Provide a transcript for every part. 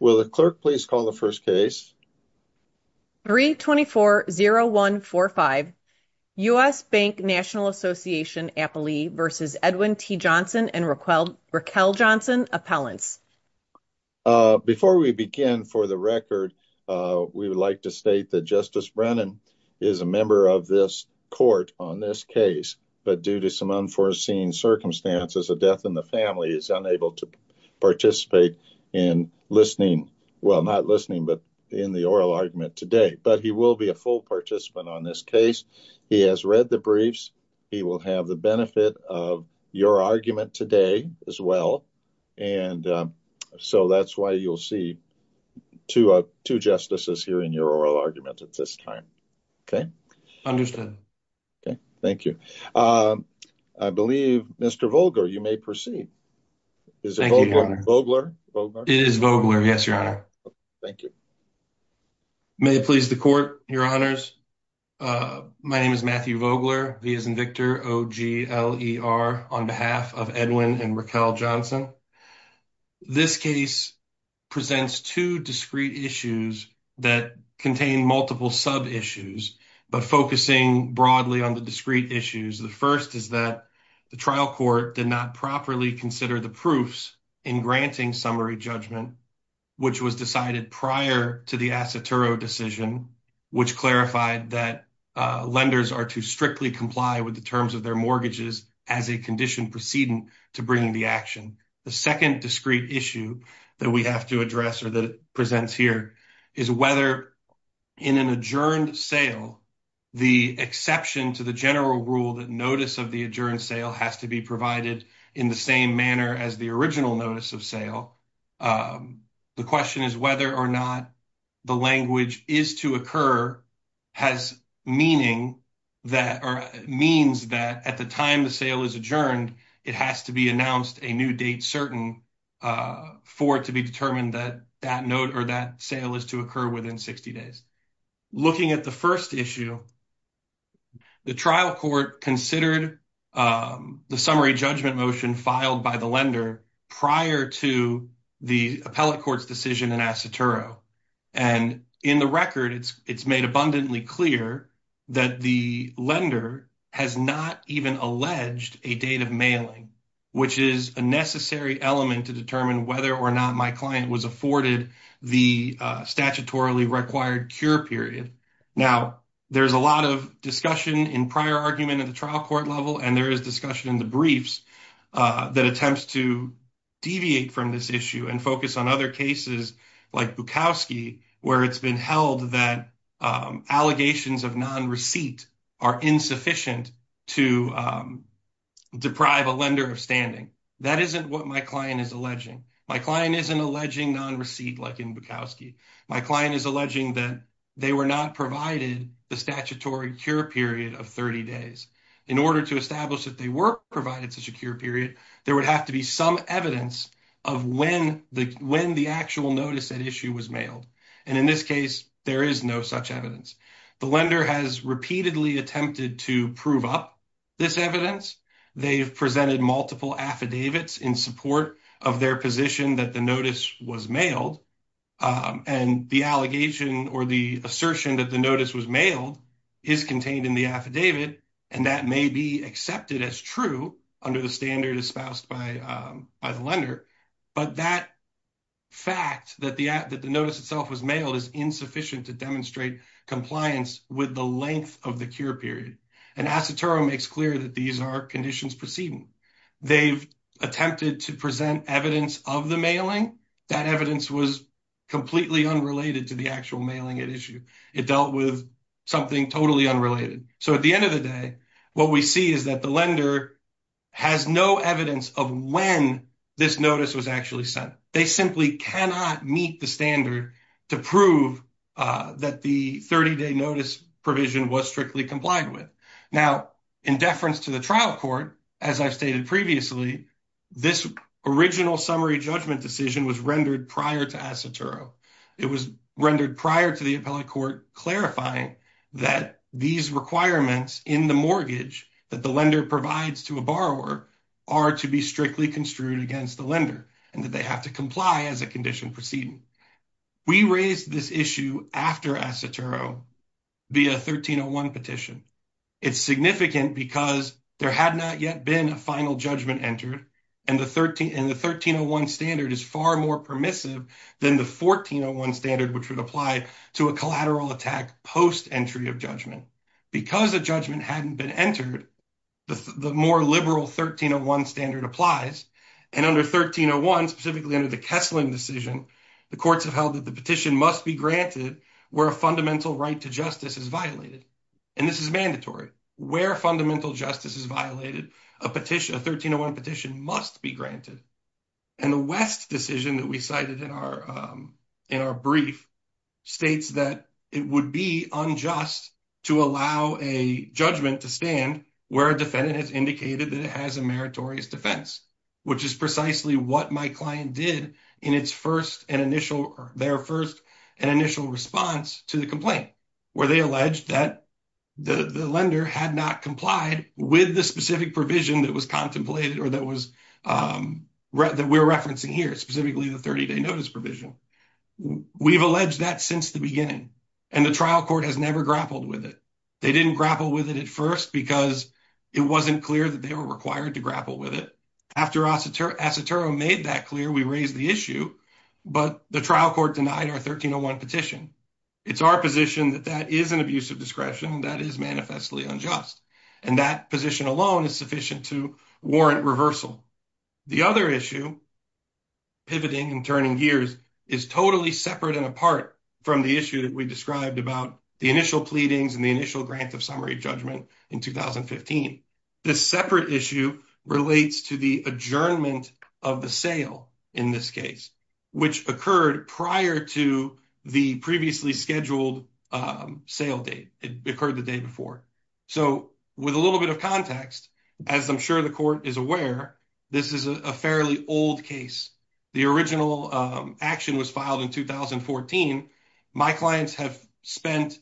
Before we begin, for the record, we would like to state that Justice Brennan is a member of this court on this case, but due to some unforeseen circumstances, a death in the family is unable to participate in the oral argument today. But he will be a full participant on this case. He has read the briefs. He will have the benefit of your argument today as well. And so that's why you'll see two justices here in your oral argument at this time, okay? Understood. Thank you. I believe, Mr. Vogler, you may proceed. Vogler? Vogler? It is Vogler, yes, Your Honor. Thank you. May it please the court, Your Honors, my name is Matthew Vogler, V as in Victor, O-G-L-E-R, on behalf of Edwin and Raquel Johnson. This case presents two discrete issues that contain multiple sub-issues, but focusing broadly on the discrete issues, the first is that the trial court did not properly consider the proofs in granting summary judgment, which was decided prior to the Asetoro decision, which clarified that lenders are to strictly comply with the terms of their mortgages as a condition precedent to bringing the action. The second discrete issue that we have to address or that it presents here is whether in an adjourned sale, the exception to the general rule that notice of the adjourned sale has to be provided in the same manner as the original notice of sale. The question is whether or not the language is to occur has meaning that or means that at the time the sale is adjourned, it has to be announced a new date certain for it to be determined that that note or that sale is to occur within 60 days. Looking at the first issue, the trial court considered the summary judgment motion filed by the lender prior to the appellate court's decision in Asetoro, and in the record, it's made abundantly clear that the lender has not even alleged a date of mailing, which is a necessary element to determine whether or not my client was afforded the statutorily required cure period. Now, there's a lot of discussion in prior argument at the trial court level, and there is discussion in the briefs that attempts to deviate from this issue and focus on other cases like Bukowski where it's been held that allegations of non-receipt are insufficient to deprive a lender of standing. That isn't what my client is alleging. My client isn't alleging non-receipt like in Bukowski. My client is alleging that they were not provided the statutory cure period of 30 days. In order to establish that they were provided such a cure period, there is no such evidence. The lender has repeatedly attempted to prove up this evidence. They've presented multiple affidavits in support of their position that the notice was mailed, and the allegation or the assertion that the notice was mailed is contained in the affidavit, and that may be accepted as true under the standard espoused by the lender, but that fact that the notice itself was mailed is insufficient to demonstrate compliance with the length of the cure period, and Asutura makes clear that these are conditions preceding. They've attempted to present evidence of the mailing. That evidence was completely unrelated to the actual mailing at issue. It dealt with something totally unrelated. So, at the end of the day, what we see is that the lender has no evidence of when this occurred. They simply cannot meet the standard to prove that the 30-day notice provision was strictly complied with. Now, in deference to the trial court, as I've stated previously, this original summary judgment decision was rendered prior to Asutura. It was rendered prior to the appellate court clarifying that these requirements in the mortgage that the lender provides to a borrower are to be strictly construed against the lender and that they have to comply as a condition preceding. We raised this issue after Asutura via 1301 petition. It's significant because there had not yet been a final judgment entered, and the 1301 standard is far more permissive than the 1401 standard, which would apply to a collateral attack post-entry of judgment. Because a judgment hadn't been entered, the more liberal 1301 standard applies. And under 1301, specifically under the Kessling decision, the courts have held that the petition must be granted where a fundamental right to justice is violated. And this is mandatory. Where fundamental justice is violated, a 1301 petition must be granted. And the West decision that we cited in our brief states that it would be unjust to allow a judgment to stand where a defendant has indicated that it has a meritorious defense, which is precisely what my client did in their first and initial response to the complaint, where they alleged that the lender had not complied with the specific provision that was contemplated or that we're referencing here, specifically the 30-day notice provision. We've alleged that since the beginning, and the trial court has never grappled with it. They didn't grapple with it at first because it wasn't clear that they were required to grapple with it. After Asutura made that clear, we raised the issue, but the trial court denied our 1301 petition. It's our position that that is an abuse of discretion that is manifestly unjust. And that position alone is sufficient to warrant reversal. The other issue pivoting and turning gears is totally separate and apart from the issue that we described about the initial pleadings and the initial grant of summary judgment in 2015. This separate issue relates to the adjournment of the sale in this case, which occurred prior to the previously scheduled sale date. It occurred the day before. So with a little bit of context, as I'm sure the court is aware, this is a fairly old case. The original action was filed in 2014. My clients have spent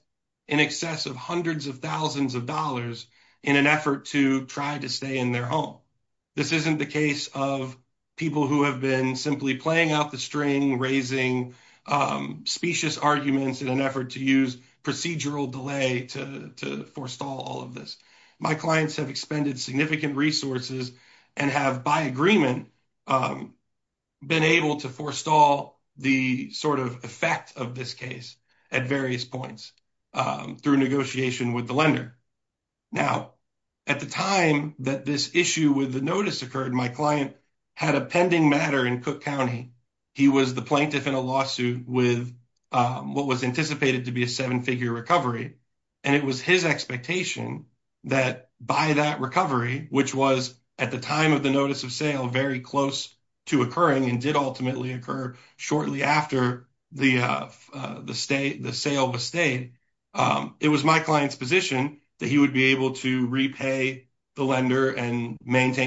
in excess of hundreds of thousands of dollars in an effort to try to stay in their home. This isn't the case of people who have been simply playing out the string, raising specious arguments in an effort to use procedural delay to forestall all of this. My clients have expended significant resources and have by agreement been able to forestall the sort of effect of this case at various points through negotiation with the lender. Now, at the time that this issue with the notice occurred, my client had a pending matter in Cook County. He was the plaintiff in a lawsuit with what was anticipated to be a seven-figure recovery, and it was his expectation that by that recovery, which was at the time of the notice of sale very close to occurring and did ultimately occur shortly after the sale was stayed, it was my client's position that he would be able to repay the lender and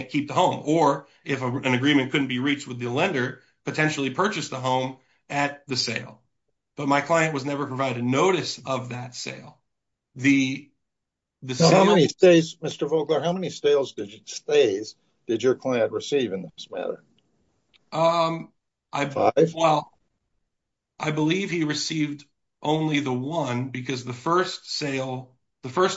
keep the home, or if an agreement couldn't be reached with the lender, potentially purchase the home at the sale. But my client was never provided notice of that sale. I believe he received only the one because the first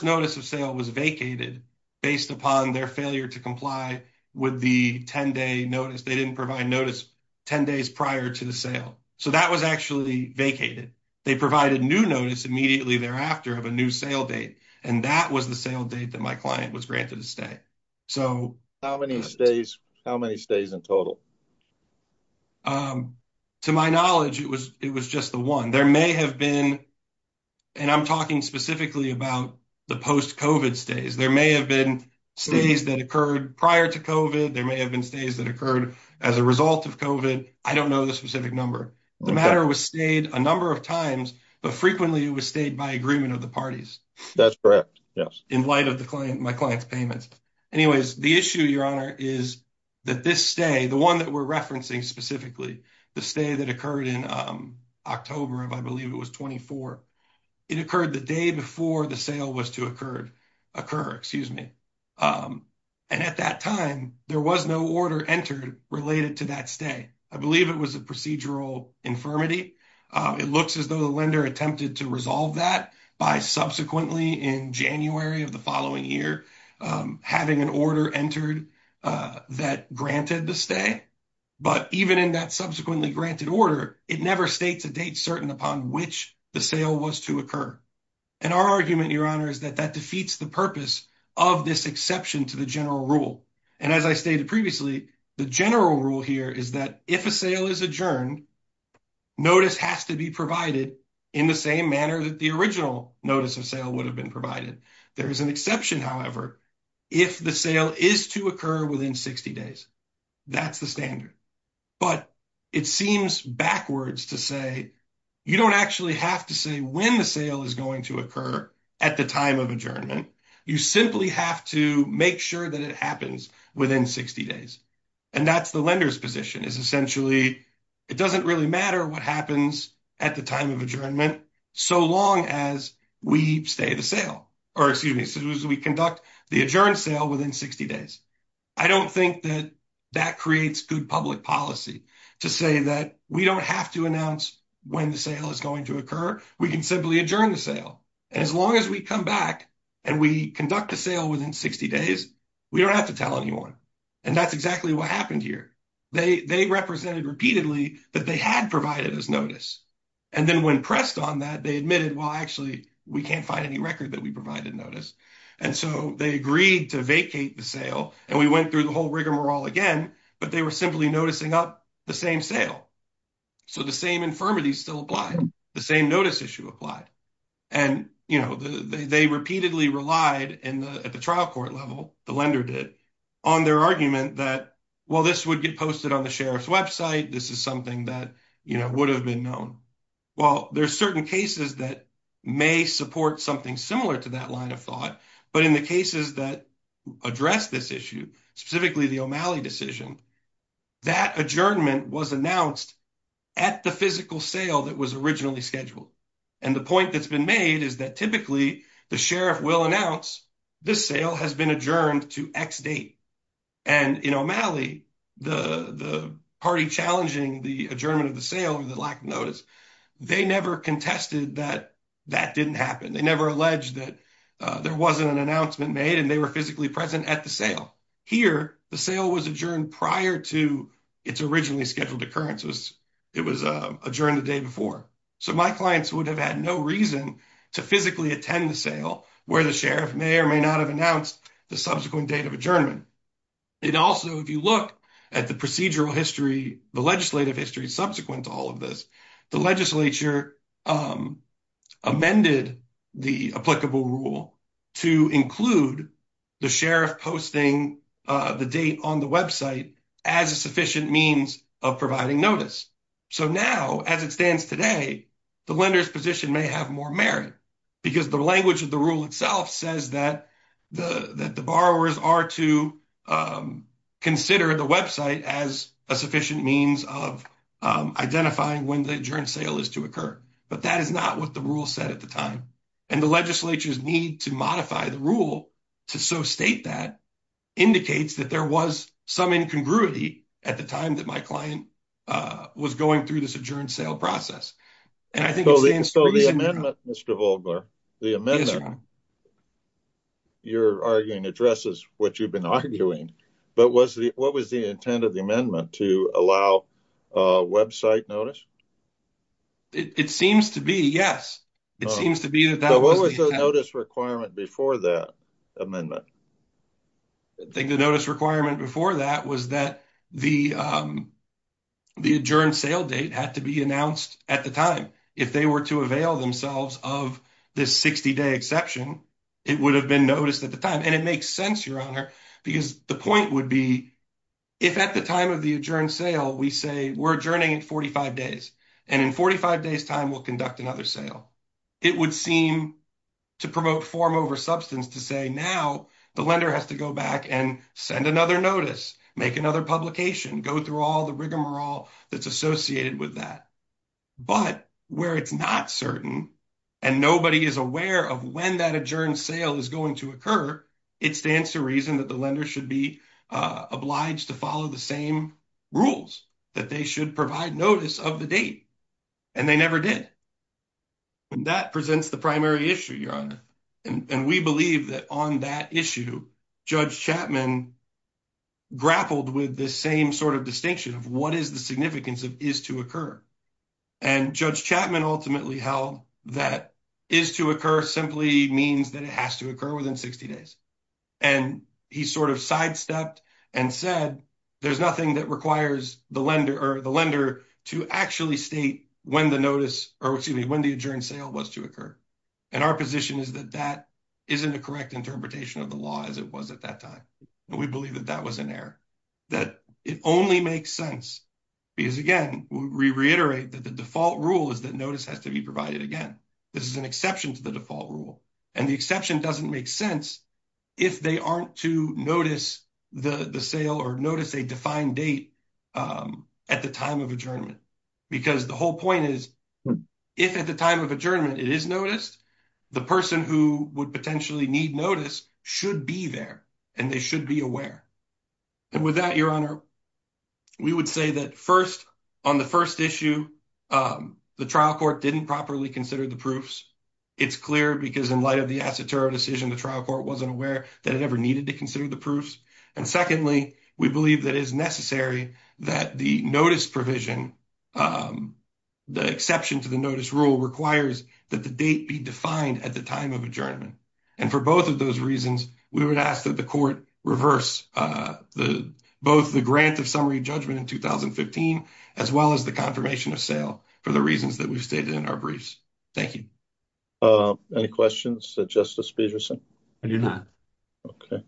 notice of sale was vacated based upon their failure to comply with the 10-day notice. They didn't provide notice 10 days prior to the sale. So that was actually vacated. They provided new notice immediately thereafter of a new sale date, and that was the sale date that my client was granted a stay. To my knowledge, it was just the one. There may have been, and I'm talking specifically about the post-COVID stays, there may have been stays that occurred prior to COVID. There may have been stays that occurred as a result of COVID. I don't know the specific number. The matter was stayed a number of times, but frequently it was stayed by agreement of the parties. In light of my client's payments. Anyways, the issue, Your Honor, is that this stay, the one that we're referencing specifically, the stay that occurred in October of, I believe, it was 24, it occurred the day before the sale was to occur. And at that time, there was no order entered related to that stay. I believe it was a procedural infirmity. It looks as though the lender attempted to resolve that by subsequently in January of the following year, having an order entered that granted the stay. But even in that subsequently granted order, it never states a date certain upon which the sale was to occur. And our argument, Your Honor, is that that defeats the purpose of this exception to the general rule. And as I stated previously, the general rule here is that if a sale is adjourned, notice has to be provided in the same manner that the original notice of sale would have been provided. There is an exception, however, if the sale is to occur within 60 days. That's the standard. But it seems backwards to say you don't actually have to say when the sale is going to occur at the time of adjournment. You simply have to make sure that it happens within 60 days. And that's the lender's position, is essentially it doesn't really matter what happens at the time of adjournment so long as we stay the sale or excuse me, as soon as we conduct the adjourned sale within 60 days. I don't think that that creates good public policy to say that we don't have to announce when the sale is going to occur. We can simply adjourn the sale. And as long as we come back and we conduct the sale within 60 days, we don't have to tell anyone. And that's exactly what happened here. They represented repeatedly that they had provided us notice. And then when pressed on that, they admitted, well, actually, we can't find any record that we provided notice. And so they agreed to vacate the sale. And we went through the whole rigmarole again. But they were simply noticing up the same sale. So the same infirmity still applied. The same notice issue applied. And they repeatedly relied at the trial court level, the lender did, on their argument that, well, this would get posted on the sheriff's website. This is something that would have been known. Well, there are certain cases that may support something similar to that line of thought. But in the cases that address this issue, specifically the O'Malley decision, that adjournment was announced at the physical sale that was originally scheduled. And the point that's been made is that typically the sheriff will announce this sale has been adjourned to X date. And in O'Malley, the party challenging the adjournment of the sale, or the lack of notice, they never contested that that didn't happen. They never alleged that there wasn't an announcement made and they were physically present at the sale. Here, the sale was adjourned prior to its originally scheduled occurrence. It was adjourned the day before. So my clients would have had no reason to physically attend the sale where the sheriff may or may not have announced the subsequent date of adjournment. And also, if you look at the procedural history, the legislative history subsequent to all of this, the legislature amended the applicable rule to include the sheriff posting the date on the website as a sufficient means of providing notice. So now, as it stands today, the lender's position may have more merit because the language of the rule itself says that the borrowers are to consider the website as a sufficient means of identifying when the adjourned sale is to occur. But that is not what the rule said at the time. And the legislature's need to modify the rule to so state that indicates that there was some incongruity at the time that my client was going through this adjourned sale process. So the amendment, Mr. Vogler, the amendment you're arguing addresses what you've been arguing. But what was the intent of the amendment to allow website notice? It seems to be, yes. It seems to be. What was the notice requirement before that amendment? I think the notice requirement before that was that the adjourned sale date had to be announced at the time. If they were to avail themselves of this 60 day exception, it would have been noticed at the time. And it makes sense, Your Honor, because the point would be if at the time of the adjourned sale, we say we're adjourning in 45 days and in 45 days time, we'll conduct another sale. It would seem to promote form over substance to say now the lender has to go back and send another notice, make another publication, go through all the rigmarole that's associated with that. But where it's not certain and nobody is aware of when that adjourned sale is going to occur, it stands to reason that the lender should be obliged to follow the same rules that they should provide notice of the date. And they never did. And that presents the primary issue, Your Honor. And we believe that on that issue, Judge Chapman grappled with the same sort of distinction of what is the significance of is to occur. And Judge Chapman ultimately held that is to occur simply means that it has to occur within 60 days. And he sort of sidestepped and said, there's nothing that requires the lender or the lender to actually state when the notice or excuse me, when the adjourned sale was to occur. And our position is that that isn't a correct interpretation of the law as it was at that time. And we believe that that was an error, that it only makes sense. Because, again, we reiterate that the default rule is that notice has to be provided again. This is an exception to the default rule. And the exception doesn't make sense if they aren't to notice the sale or notice a defined date at the time of adjournment. Because the whole point is, if at the time of adjournment it is noticed, the person who would potentially need notice should be there and they should be aware. And with that, Your Honor, we would say that, first, on the first issue, the trial court didn't properly consider the proofs. It's clear because in light of the Asitara decision, the trial court wasn't aware that it ever needed to consider the proofs. And secondly, we believe that it is necessary that the notice provision, the exception to the notice rule requires that the date be defined at the time of adjournment. And for both of those reasons, we would ask that the court reverse both the grant of summary judgment in 2015 as well as the confirmation of sale for the reasons that we've stated in our briefs. Thank you. Any questions to Justice Peterson? I do not. Okay.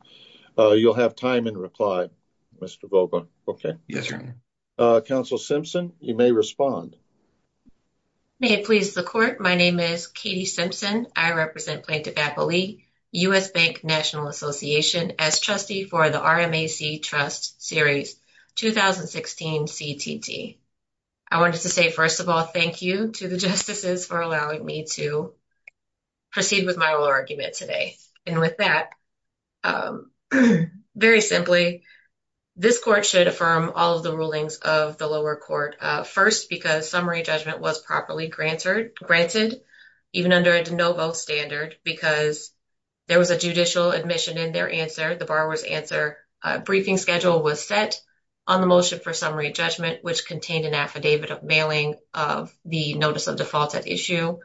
You'll have time in reply, Mr. Vogel. Okay. Yes, Your Honor. Counsel Simpson, you may respond. May it please the court. My name is Katie Simpson. I represent Plaintiff-Appley U.S. Bank National Association as trustee for the RMAC Trust Series 2016 CTT. I wanted to say, first of all, thank you to the justices for allowing me to proceed with my argument today. And with that, very simply, this court should affirm all of the rulings of the lower court. First, because summary judgment was properly granted, even under a no-vote standard, because there was a judicial admission in their answer, the borrower's answer. A briefing schedule was set on the motion for summary judgment, which contained an affidavit of mailing of the notice of default at issue.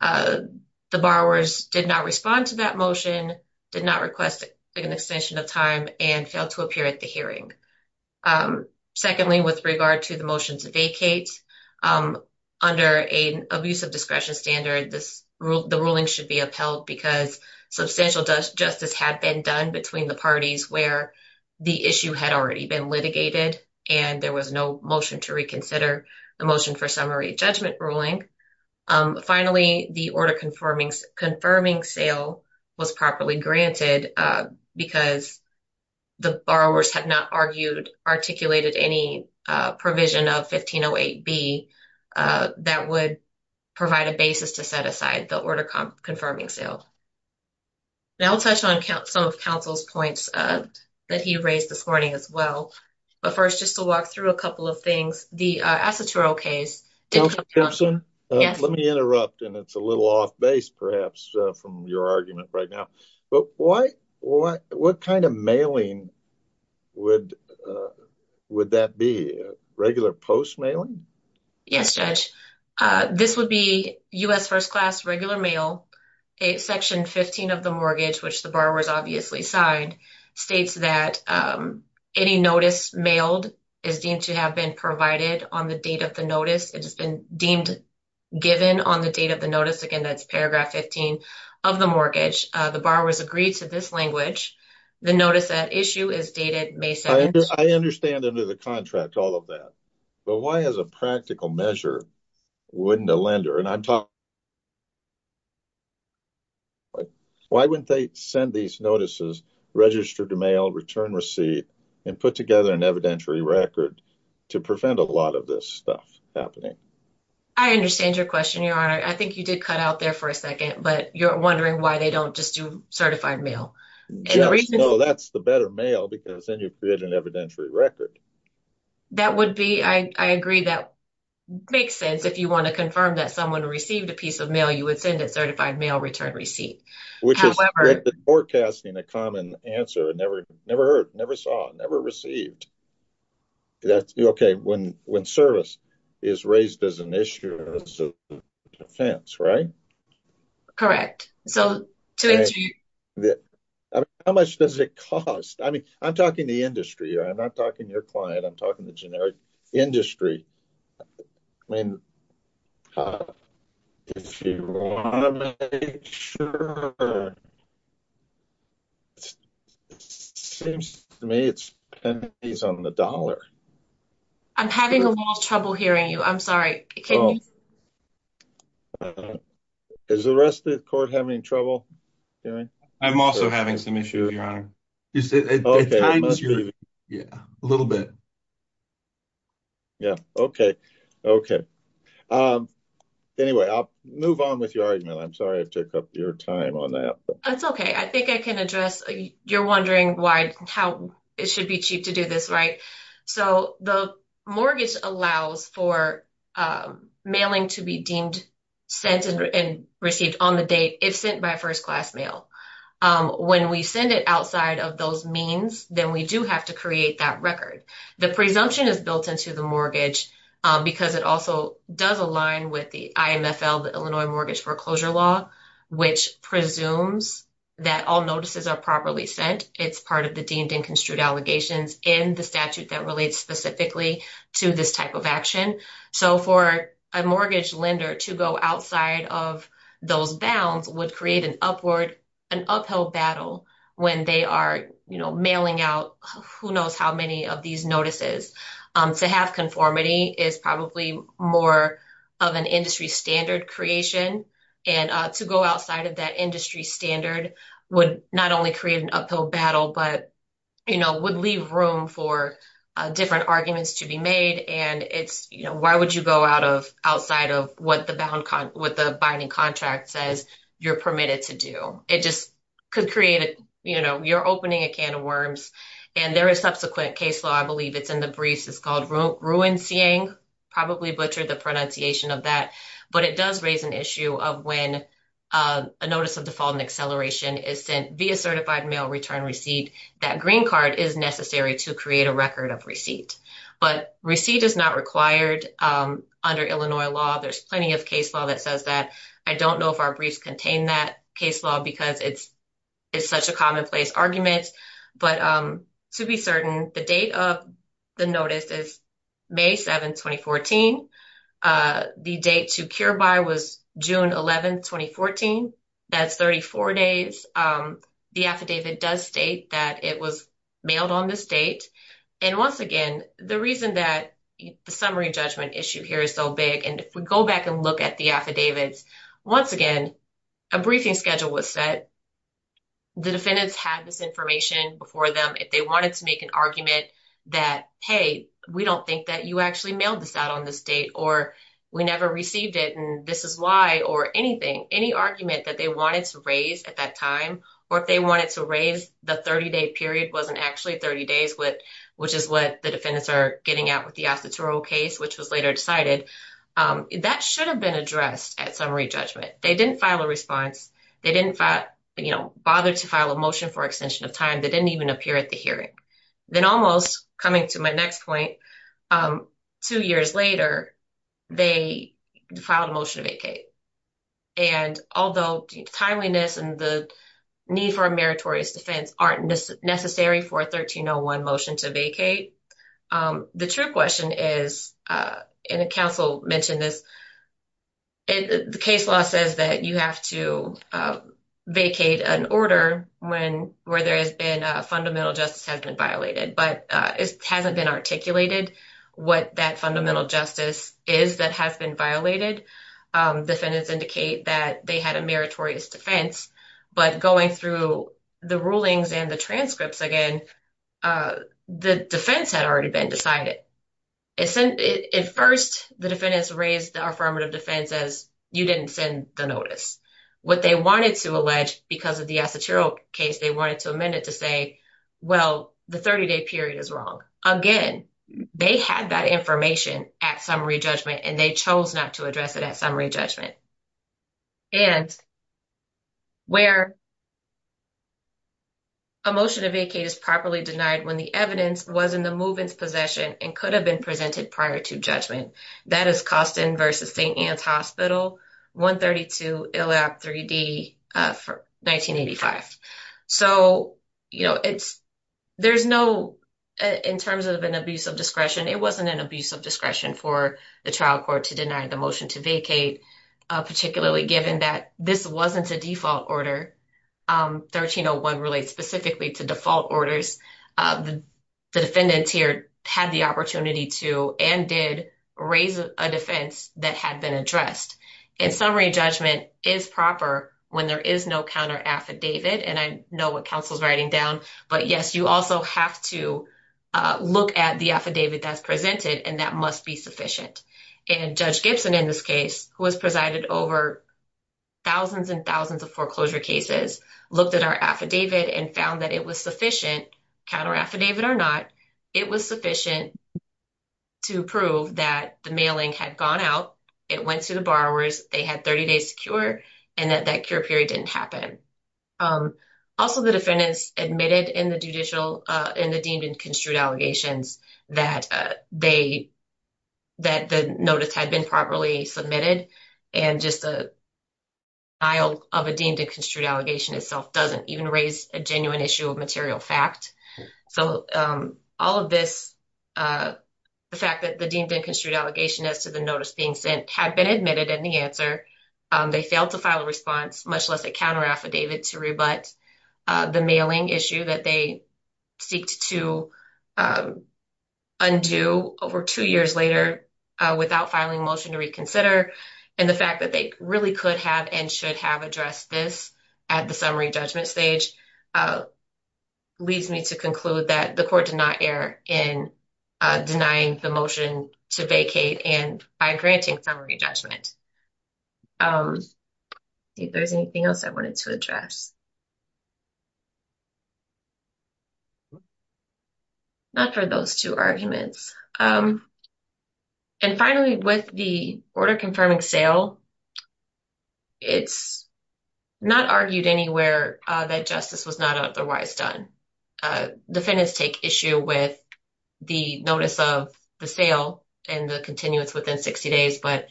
The borrowers did not respond to that motion, did not request an extension of time, and failed to appear at the hearing. Secondly, with regard to the motion to vacate, under an abuse of discretion standard, the ruling should be upheld, because substantial justice had been done between the parties where the issue had already been litigated, and there was no motion to reconsider the motion for summary judgment ruling. Finally, the order confirming sale was properly granted, because the borrowers had not argued, articulated any provision of 1508B that would provide a basis to set aside the order confirming sale. Now I'll touch on some of counsel's points that he raised this morning as well. But first, just to walk through a couple of things. First, the Asituro case. Counselor Simpson? Yes. Let me interrupt, and it's a little off base, perhaps, from your argument right now. But what kind of mailing would that be? Regular post-mailing? Yes, Judge. This would be U.S. first-class regular mail. Section 15 of the mortgage, which the borrowers obviously signed, states that any notice mailed is deemed to have been provided on the date of the notice. It has been deemed given on the date of the notice. Again, that's paragraph 15 of the mortgage. The borrowers agreed to this language. The notice at issue is dated May 7th. I understand under the contract, all of that. But why, as a practical measure, wouldn't a lender? Why wouldn't they send these notices, register to mail, return receipt, and put together an evidentiary record to prevent a lot of this stuff happening? I understand your question, Your Honor. I think you did cut out there for a second, but you're wondering why they don't just do certified mail. No, that's the better mail, because then you create an evidentiary record. That would be, I agree, that makes sense. If you want to confirm that someone received a piece of mail, you would send a certified mail return receipt. Which is forecasting a common answer. Never heard, never saw, never received. Okay, when service is raised as an issue of defense, right? Correct. How much does it cost? I mean, I'm talking the industry. I'm not talking your client. I'm talking the generic industry. I mean, if you want to make sure. Seems to me it's pennies on the dollar. I'm having a little trouble hearing you. I'm sorry. Is the rest of the court having trouble hearing? I'm also having some issues, Your Honor. A little bit. Yeah, okay. Okay. Anyway, I'll move on with your argument. I'm sorry I took up your time on that. That's okay. I think I can address. You're wondering why, how it should be cheap to do this, right? So the mortgage allows for mailing to be deemed sent and received on the date, if sent by first-class mail. When we send it outside of those means, then we do have to create that record. The presumption is built into the mortgage because it also does align with the IMFL, the Illinois Mortgage Foreclosure Law, which presumes that all notices are properly sent. It's part of the deemed and construed allegations in the statute that relates specifically to this type of action. So for a mortgage lender to go outside of those bounds would create an upward, an uphill battle when they are mailing out who knows how many of these notices. To have conformity is probably more of an industry standard creation. And to go outside of that industry standard would not only create an uphill battle, but, you know, would leave room for different arguments to be made. And it's, you know, why would you go out of outside of what the binding contract says you're permitted to do? It just could create, you know, you're opening a can of worms. And there is subsequent case law. I believe it's in the briefs. It's called ruin seeing probably butchered the pronunciation of that, but it does raise an issue of when a notice of default and acceleration is sent via certified mail return receipt, that green card is necessary to create a record of receipt. But receipt is not required under Illinois law. There's plenty of case law that says that. I don't know if our briefs contain that case law because it's, it's such a commonplace argument, but to be certain, the date of the notice is May 7th, 2014. The date to cure by was June 11th, 2014. That's 34 days. The affidavit does state that it was mailed on this date. And once again, the reason that the summary judgment issue here is so big. And if we go back and look at the affidavits, once again, a briefing schedule was set. The defendants had this information before them. If they wanted to make an argument that, Hey, we don't think that you actually mailed this out on this date or we never received it. And this is why, or anything, any argument that they wanted to raise at that time, or if they wanted to raise the 30 day period, wasn't actually 30 days with, which is what the defendants are getting out with the Astuturo case, which was later decided. That should have been addressed at summary judgment. They didn't file a response. They didn't fight. You know, bother to file a motion for extension of time. They didn't even appear at the hearing. Then almost coming to my next point two years later, They filed a motion to vacate. And although timeliness and the need for a meritorious defense aren't necessary for a 1301 motion to vacate. The true question is in a council mentioned this. The case law says that you have to vacate an order when, where there has been a fundamental justice has been violated, but it hasn't been articulated what that fundamental justice is that has been violated. Defendants indicate that they had a meritorious defense, but going through the rulings and the transcripts again, the defense had already been decided. At first the defendants raised the affirmative defense as you didn't send the notice. What they wanted to allege because of the Astuturo case, they wanted to amend it to say, well, the 30 day period is wrong again. They had that information at summary judgment and they chose not to address it at summary judgment. And where a motion to vacate is properly denied when the evidence was in the movements possession and could have been presented prior to judgment that is St. Ann's hospital, 132 Illap 3D for 1985. So, you know, it's, there's no, in terms of an abuse of discretion, it wasn't an abuse of discretion for the trial court to deny the motion to vacate particularly given that this wasn't a default order. 1301 relates specifically to default orders. The defendants here had the opportunity to, and did raise a defense that had been addressed and summary judgment is proper when there is no counter affidavit. And I know what counsel's writing down, but yes, you also have to look at the affidavit that's presented and that must be sufficient. And judge Gibson, in this case, who has presided over thousands and thousands of foreclosure cases, looked at our affidavit and found that it was sufficient counter affidavit or not. It was sufficient to prove that the mailing had gone out. It went to the borrowers. They had 30 days to cure and that that cure period didn't happen. Also the defendants admitted in the judicial, in the deemed and construed allegations that they, that the notice had been properly submitted and just a aisle of a deemed and construed allegation itself doesn't even raise a genuine issue of material fact. So all of this the fact that the deemed and construed allegation as to the notice being sent had been admitted in the answer. They failed to file a response, much less a counter affidavit to rebut the mailing issue that they seek to undo over two years later without filing motion to reconsider. And the fact that they really could have and should have addressed this at the court did not err in denying the motion to vacate and by granting summary judgment. If there's anything else I wanted to address, not for those two arguments. And finally, with the order confirming sale, it's not argued anywhere that justice was not otherwise done. Defendants take issue with the notice of the sale and the continuance within 60 days, but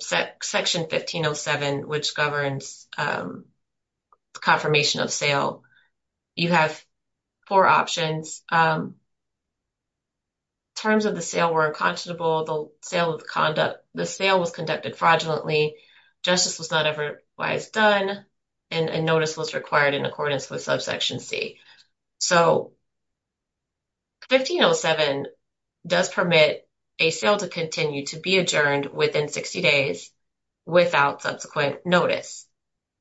section 1507, which governs confirmation of sale, you have four options. Terms of the sale were unconscionable. The sale of conduct, the sale was conducted fraudulently. Justice was not ever wise done and a notice was required in accordance with terms of section C. So 1507 does permit a sale to continue to be adjourned within 60 days without subsequent notice.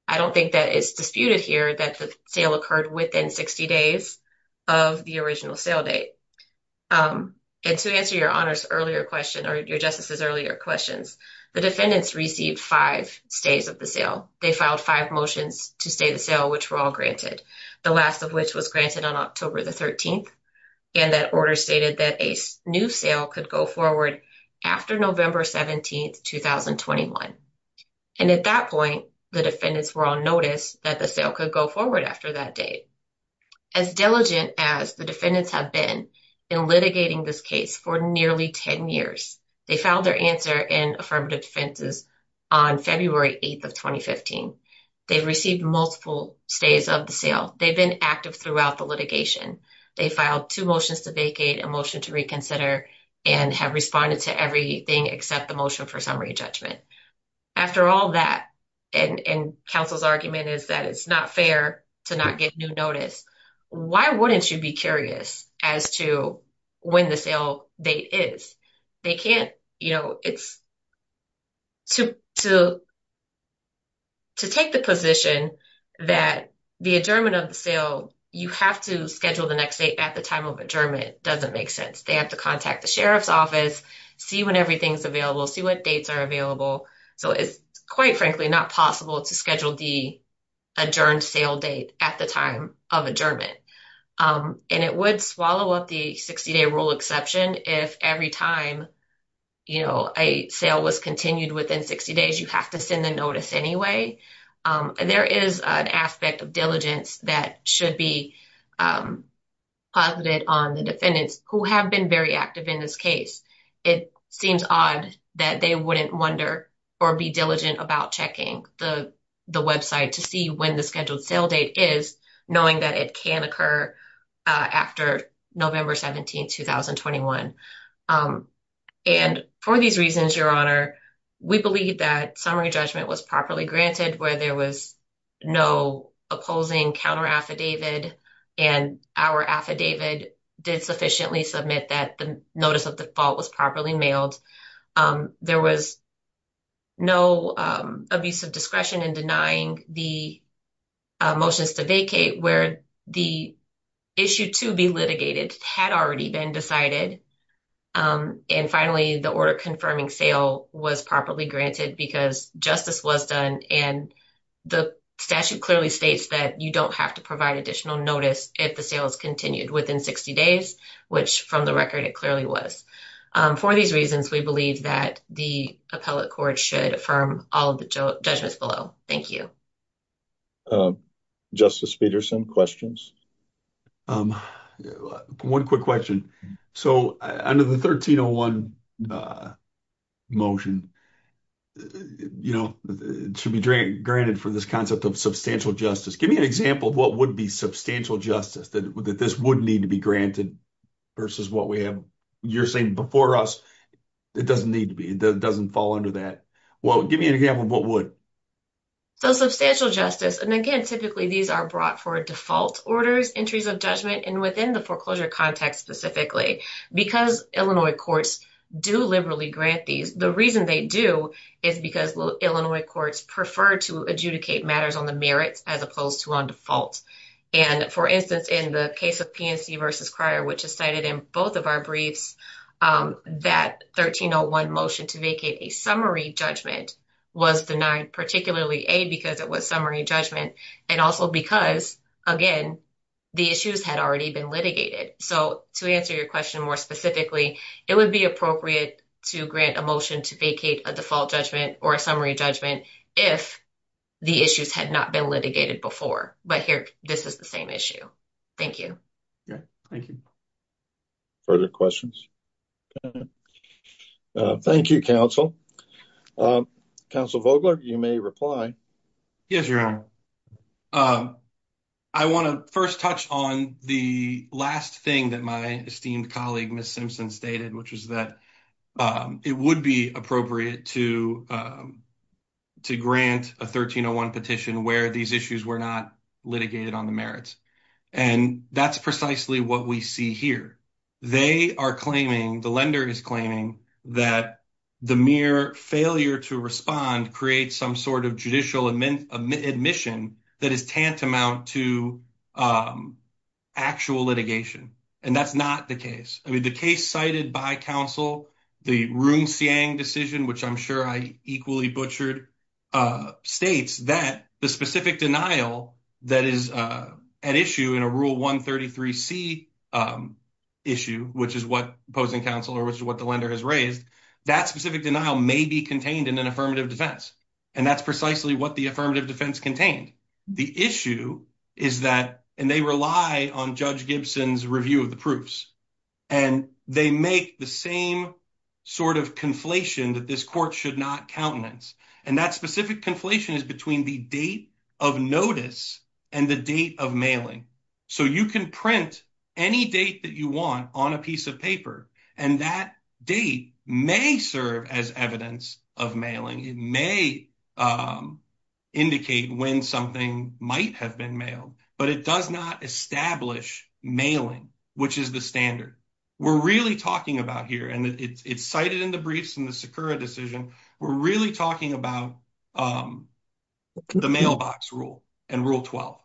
I don't think that is disputed here that the sale occurred within 60 days of the original sale date. And to answer your honors earlier question or your justices earlier questions, the defendants received five stays of the sale. They filed five motions to stay the sale, which were all granted. The last of which was granted on October the 13th. And that order stated that a new sale could go forward after November 17th, 2021. And at that point, the defendants were on notice that the sale could go forward after that date. As diligent as the defendants have been in litigating this case for nearly 10 years, they filed their answer in affirmative defenses on February 8th of 2015. They've received multiple stays of the sale. They've been active throughout the litigation. They filed two motions to vacate a motion to reconsider and have responded to everything except the motion for summary judgment. After all that and counsel's argument is that it's not fair to not get new notice. Why wouldn't you be curious as to when the sale date is? They can't, you know, it's to, to, to take the position that the adjournment of the sale, you have to schedule the next date at the time of adjournment. Doesn't make sense. They have to contact the sheriff's office, see when everything's available, see what dates are available. So it's quite frankly, not possible to schedule the adjourned sale date at the time of adjournment. And it would swallow up the 60 day rule exception. If every time, you know, a sale was continued within 60 days, you have to send the notice anyway. There is an aspect of diligence that should be positive on the defendants who have been very active in this case. It seems odd that they wouldn't wonder or be diligent about checking the, the website to see when the scheduled sale date is knowing that it can occur after November 17th, 2021. And for these reasons, your honor, we believe that summary judgment was properly granted where there was no opposing counter affidavit. And our affidavit did sufficiently submit that the notice of default was properly mailed. There was no abuse of discretion in denying the motions to vacate where the issue to be litigated had already been decided. And finally the order confirming sale was properly granted because justice was done. And the statute clearly states that you don't have to provide additional notice if the sale is continued within 60 days, which from the record it clearly was. For these reasons we believe that the appellate court should affirm all of the judgments below. Thank you. Justice Peterson questions. One quick question. So under the 1301 motion, you know, it should be granted for this concept of substantial justice. Give me an example of what would be substantial justice that this would need to be granted versus what we have. You're saying before us it doesn't need to be, it doesn't fall under that. Well, give me an example of what would. So substantial justice. And again, typically these are brought for default orders, entries of judgment and within the foreclosure context specifically because Illinois courts do liberally grant these. The reason they do is because Illinois courts prefer to adjudicate matters on the merits as opposed to on default. And for instance, in the case of PNC versus Cryer, which is cited in both of our briefs that 1301 motion to vacate a summary judgment was denied particularly a, because it was summary judgment and also because again, the issues had already been litigated. So to answer your question more specifically, it would be appropriate to grant a motion to vacate a default judgment or a summary judgment if the issues had not been litigated before. But here, this is the same issue. Thank you. Okay. Thank you. Further questions. Thank you. Counsel counsel Vogler, you may reply. Yes, Your Honor. I want to first touch on the last thing that my esteemed colleague, Ms. Simpson stated, which was that it would be appropriate to, to grant a 1301 petition where these issues were not litigated on the merits. And that's precisely what we see here. They are claiming the lender is claiming that the mere failure to respond creates some sort of judicial admin admission that is tantamount to actual litigation. And that's not the case. I mean, the case cited by counsel, the room saying decision, which I'm sure I equally butchered states that the specific denial that is an issue in a rule one 33 C issue, which is what opposing counsel or which is what the lender has raised. That specific denial may be contained in an affirmative defense. And that's precisely what the affirmative defense contained. The issue is that, and they rely on judge Gibson's review of the proofs and they make the same sort of conflation that this court should not countenance. And that specific conflation is between the date of notice and the date of So you can print any date that you want on a piece of paper. And that date may serve as evidence of mailing. It may indicate when something might have been mailed, but it does not establish mailing, which is the standard we're really talking about here. And it's cited in the briefs and the Sakura decision. We're really talking about the mailbox rule and rule 12.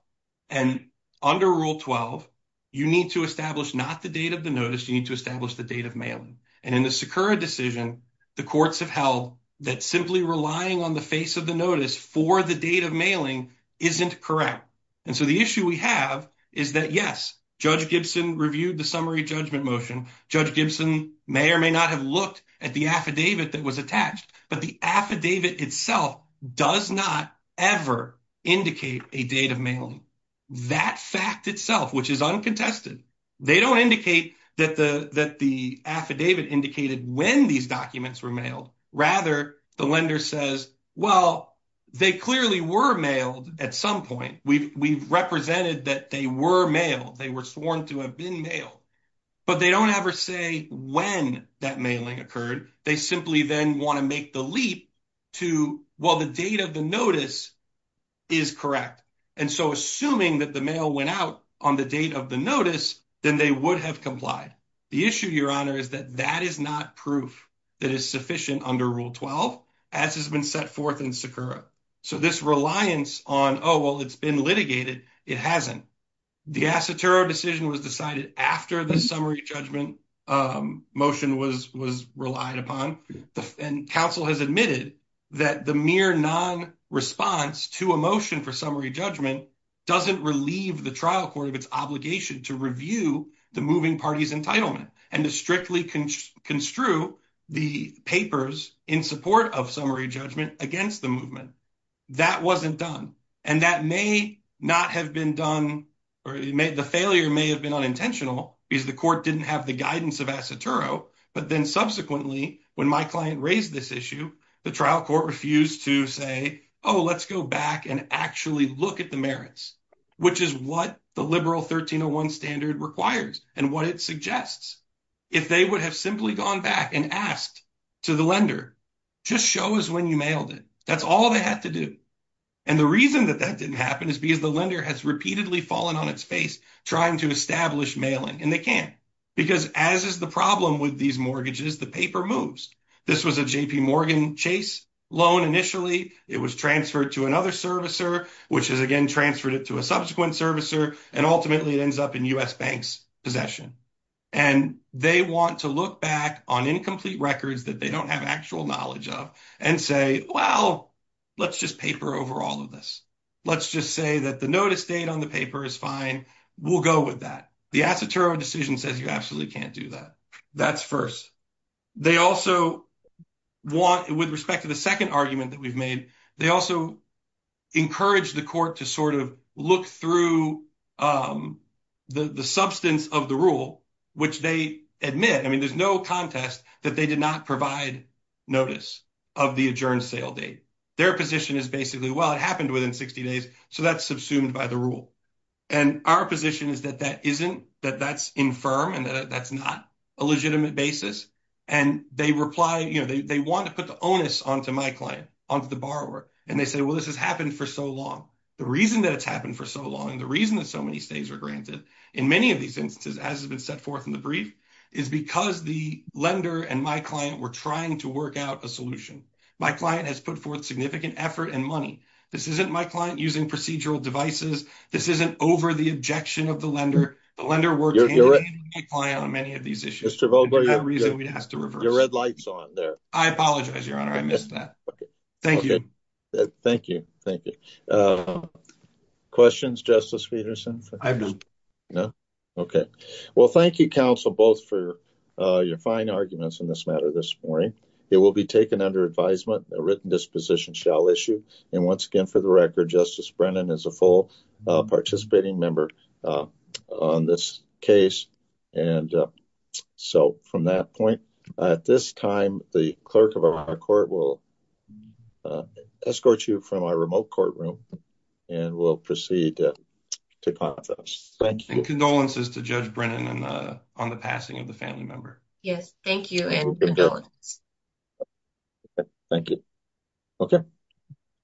And under rule 12, you need to establish not the date of the notice. You need to establish the date of mailing. And in the Sakura decision, the courts have held that simply relying on the face of the notice for the date of mailing isn't correct. And so the issue we have is that yes, judge Gibson reviewed the summary judgment motion, judge Gibson may or may not have looked at the affidavit that was attached, but the affidavit itself does not ever indicate a date of mailing that fact itself, which is uncontested. They don't indicate that the, that the affidavit indicated when these documents were mailed, rather the lender says, well, they clearly were mailed at some point we've, we've represented that they were mailed. They were sworn to have been mailed, but they don't ever say when that mailing occurred, they simply then want to make the leap to while the date of the notice is correct. And so assuming that the mail went out on the date of the notice, then they would have complied. The issue, Your Honor, is that that is not proof that is sufficient under rule 12 as has been set forth in Sakura. So this reliance on, Oh, well, it's been litigated. It hasn't. The Asa terror decision was decided after the summary judgment motion was, was relied upon. And counsel has admitted that the mere non response to emotion for summary judgment, doesn't relieve the trial court of its obligation to review the moving parties entitlement and to strictly construe the papers in support of summary judgment against the movement that wasn't done. And that may not have been done or it may, the failure may have been unintentional because the court didn't have the guidance of Asa Turo. But then subsequently, when my client raised this issue, the trial court refused to say, Oh, let's go back and actually look at the merits, which is what the liberal 1301 standard requires and what it suggests. If they would have simply gone back and asked to the lender, just show us when you mailed it. That's all they had to do. And the reason that that didn't happen is because the lender has repeatedly fallen on its face, trying to establish mailing. And they can't because as is the problem with these mortgages, the paper moves. This was a JP Morgan chase loan. Initially it was transferred to another servicer, which has again transferred it to a subsequent servicer. And ultimately it ends up in us banks possession. And they want to look back on incomplete records that they don't have actual knowledge of and say, well, let's just paper over all of this. Let's just say that the notice date on the paper is fine. We'll go with that. The Asa Turo decision says you absolutely can't do that. That's first. They also want with respect to the second argument that we've made, they also encourage the court to sort of look through the, the substance of the rule, which they admit. I mean, there's no contest that they did not provide notice of the adjourned sale date. Their position is basically, well, it happened within 60 days. So that's subsumed by the rule. And our position is that that isn't, that that's infirm and that that's not a legitimate basis. And they reply, you know, they, they want to put the onus onto my client, onto the borrower. And they say, well, this has happened for so long. The reason that it's happened for so long. And the reason that so many stays are granted in many of these instances, as has been set forth in the brief is because the lender and my client were trying to work out a solution. My client has put forth significant effort and money. This isn't my client using procedural devices. This isn't over the objection of the lender. The lender works on many of these issues. We'd have to reverse your red lights on there. I apologize, your honor. I missed that. Okay. Thank you. Thank you. Thank you. Questions justice Peterson. No. Okay. Well, thank you counsel, both for your fine arguments in this matter this morning, it will be taken under advisement. A written disposition shall issue. And once again, for the record, justice Brennan is a full participating member on this case. And so from that point at this time, the clerk of our court will escort you from our remote courtroom. And we'll proceed to conference. Thank you. And condolences to judge Brennan on the, on the passing of the family member. Yes. Thank you. Thank you. Okay.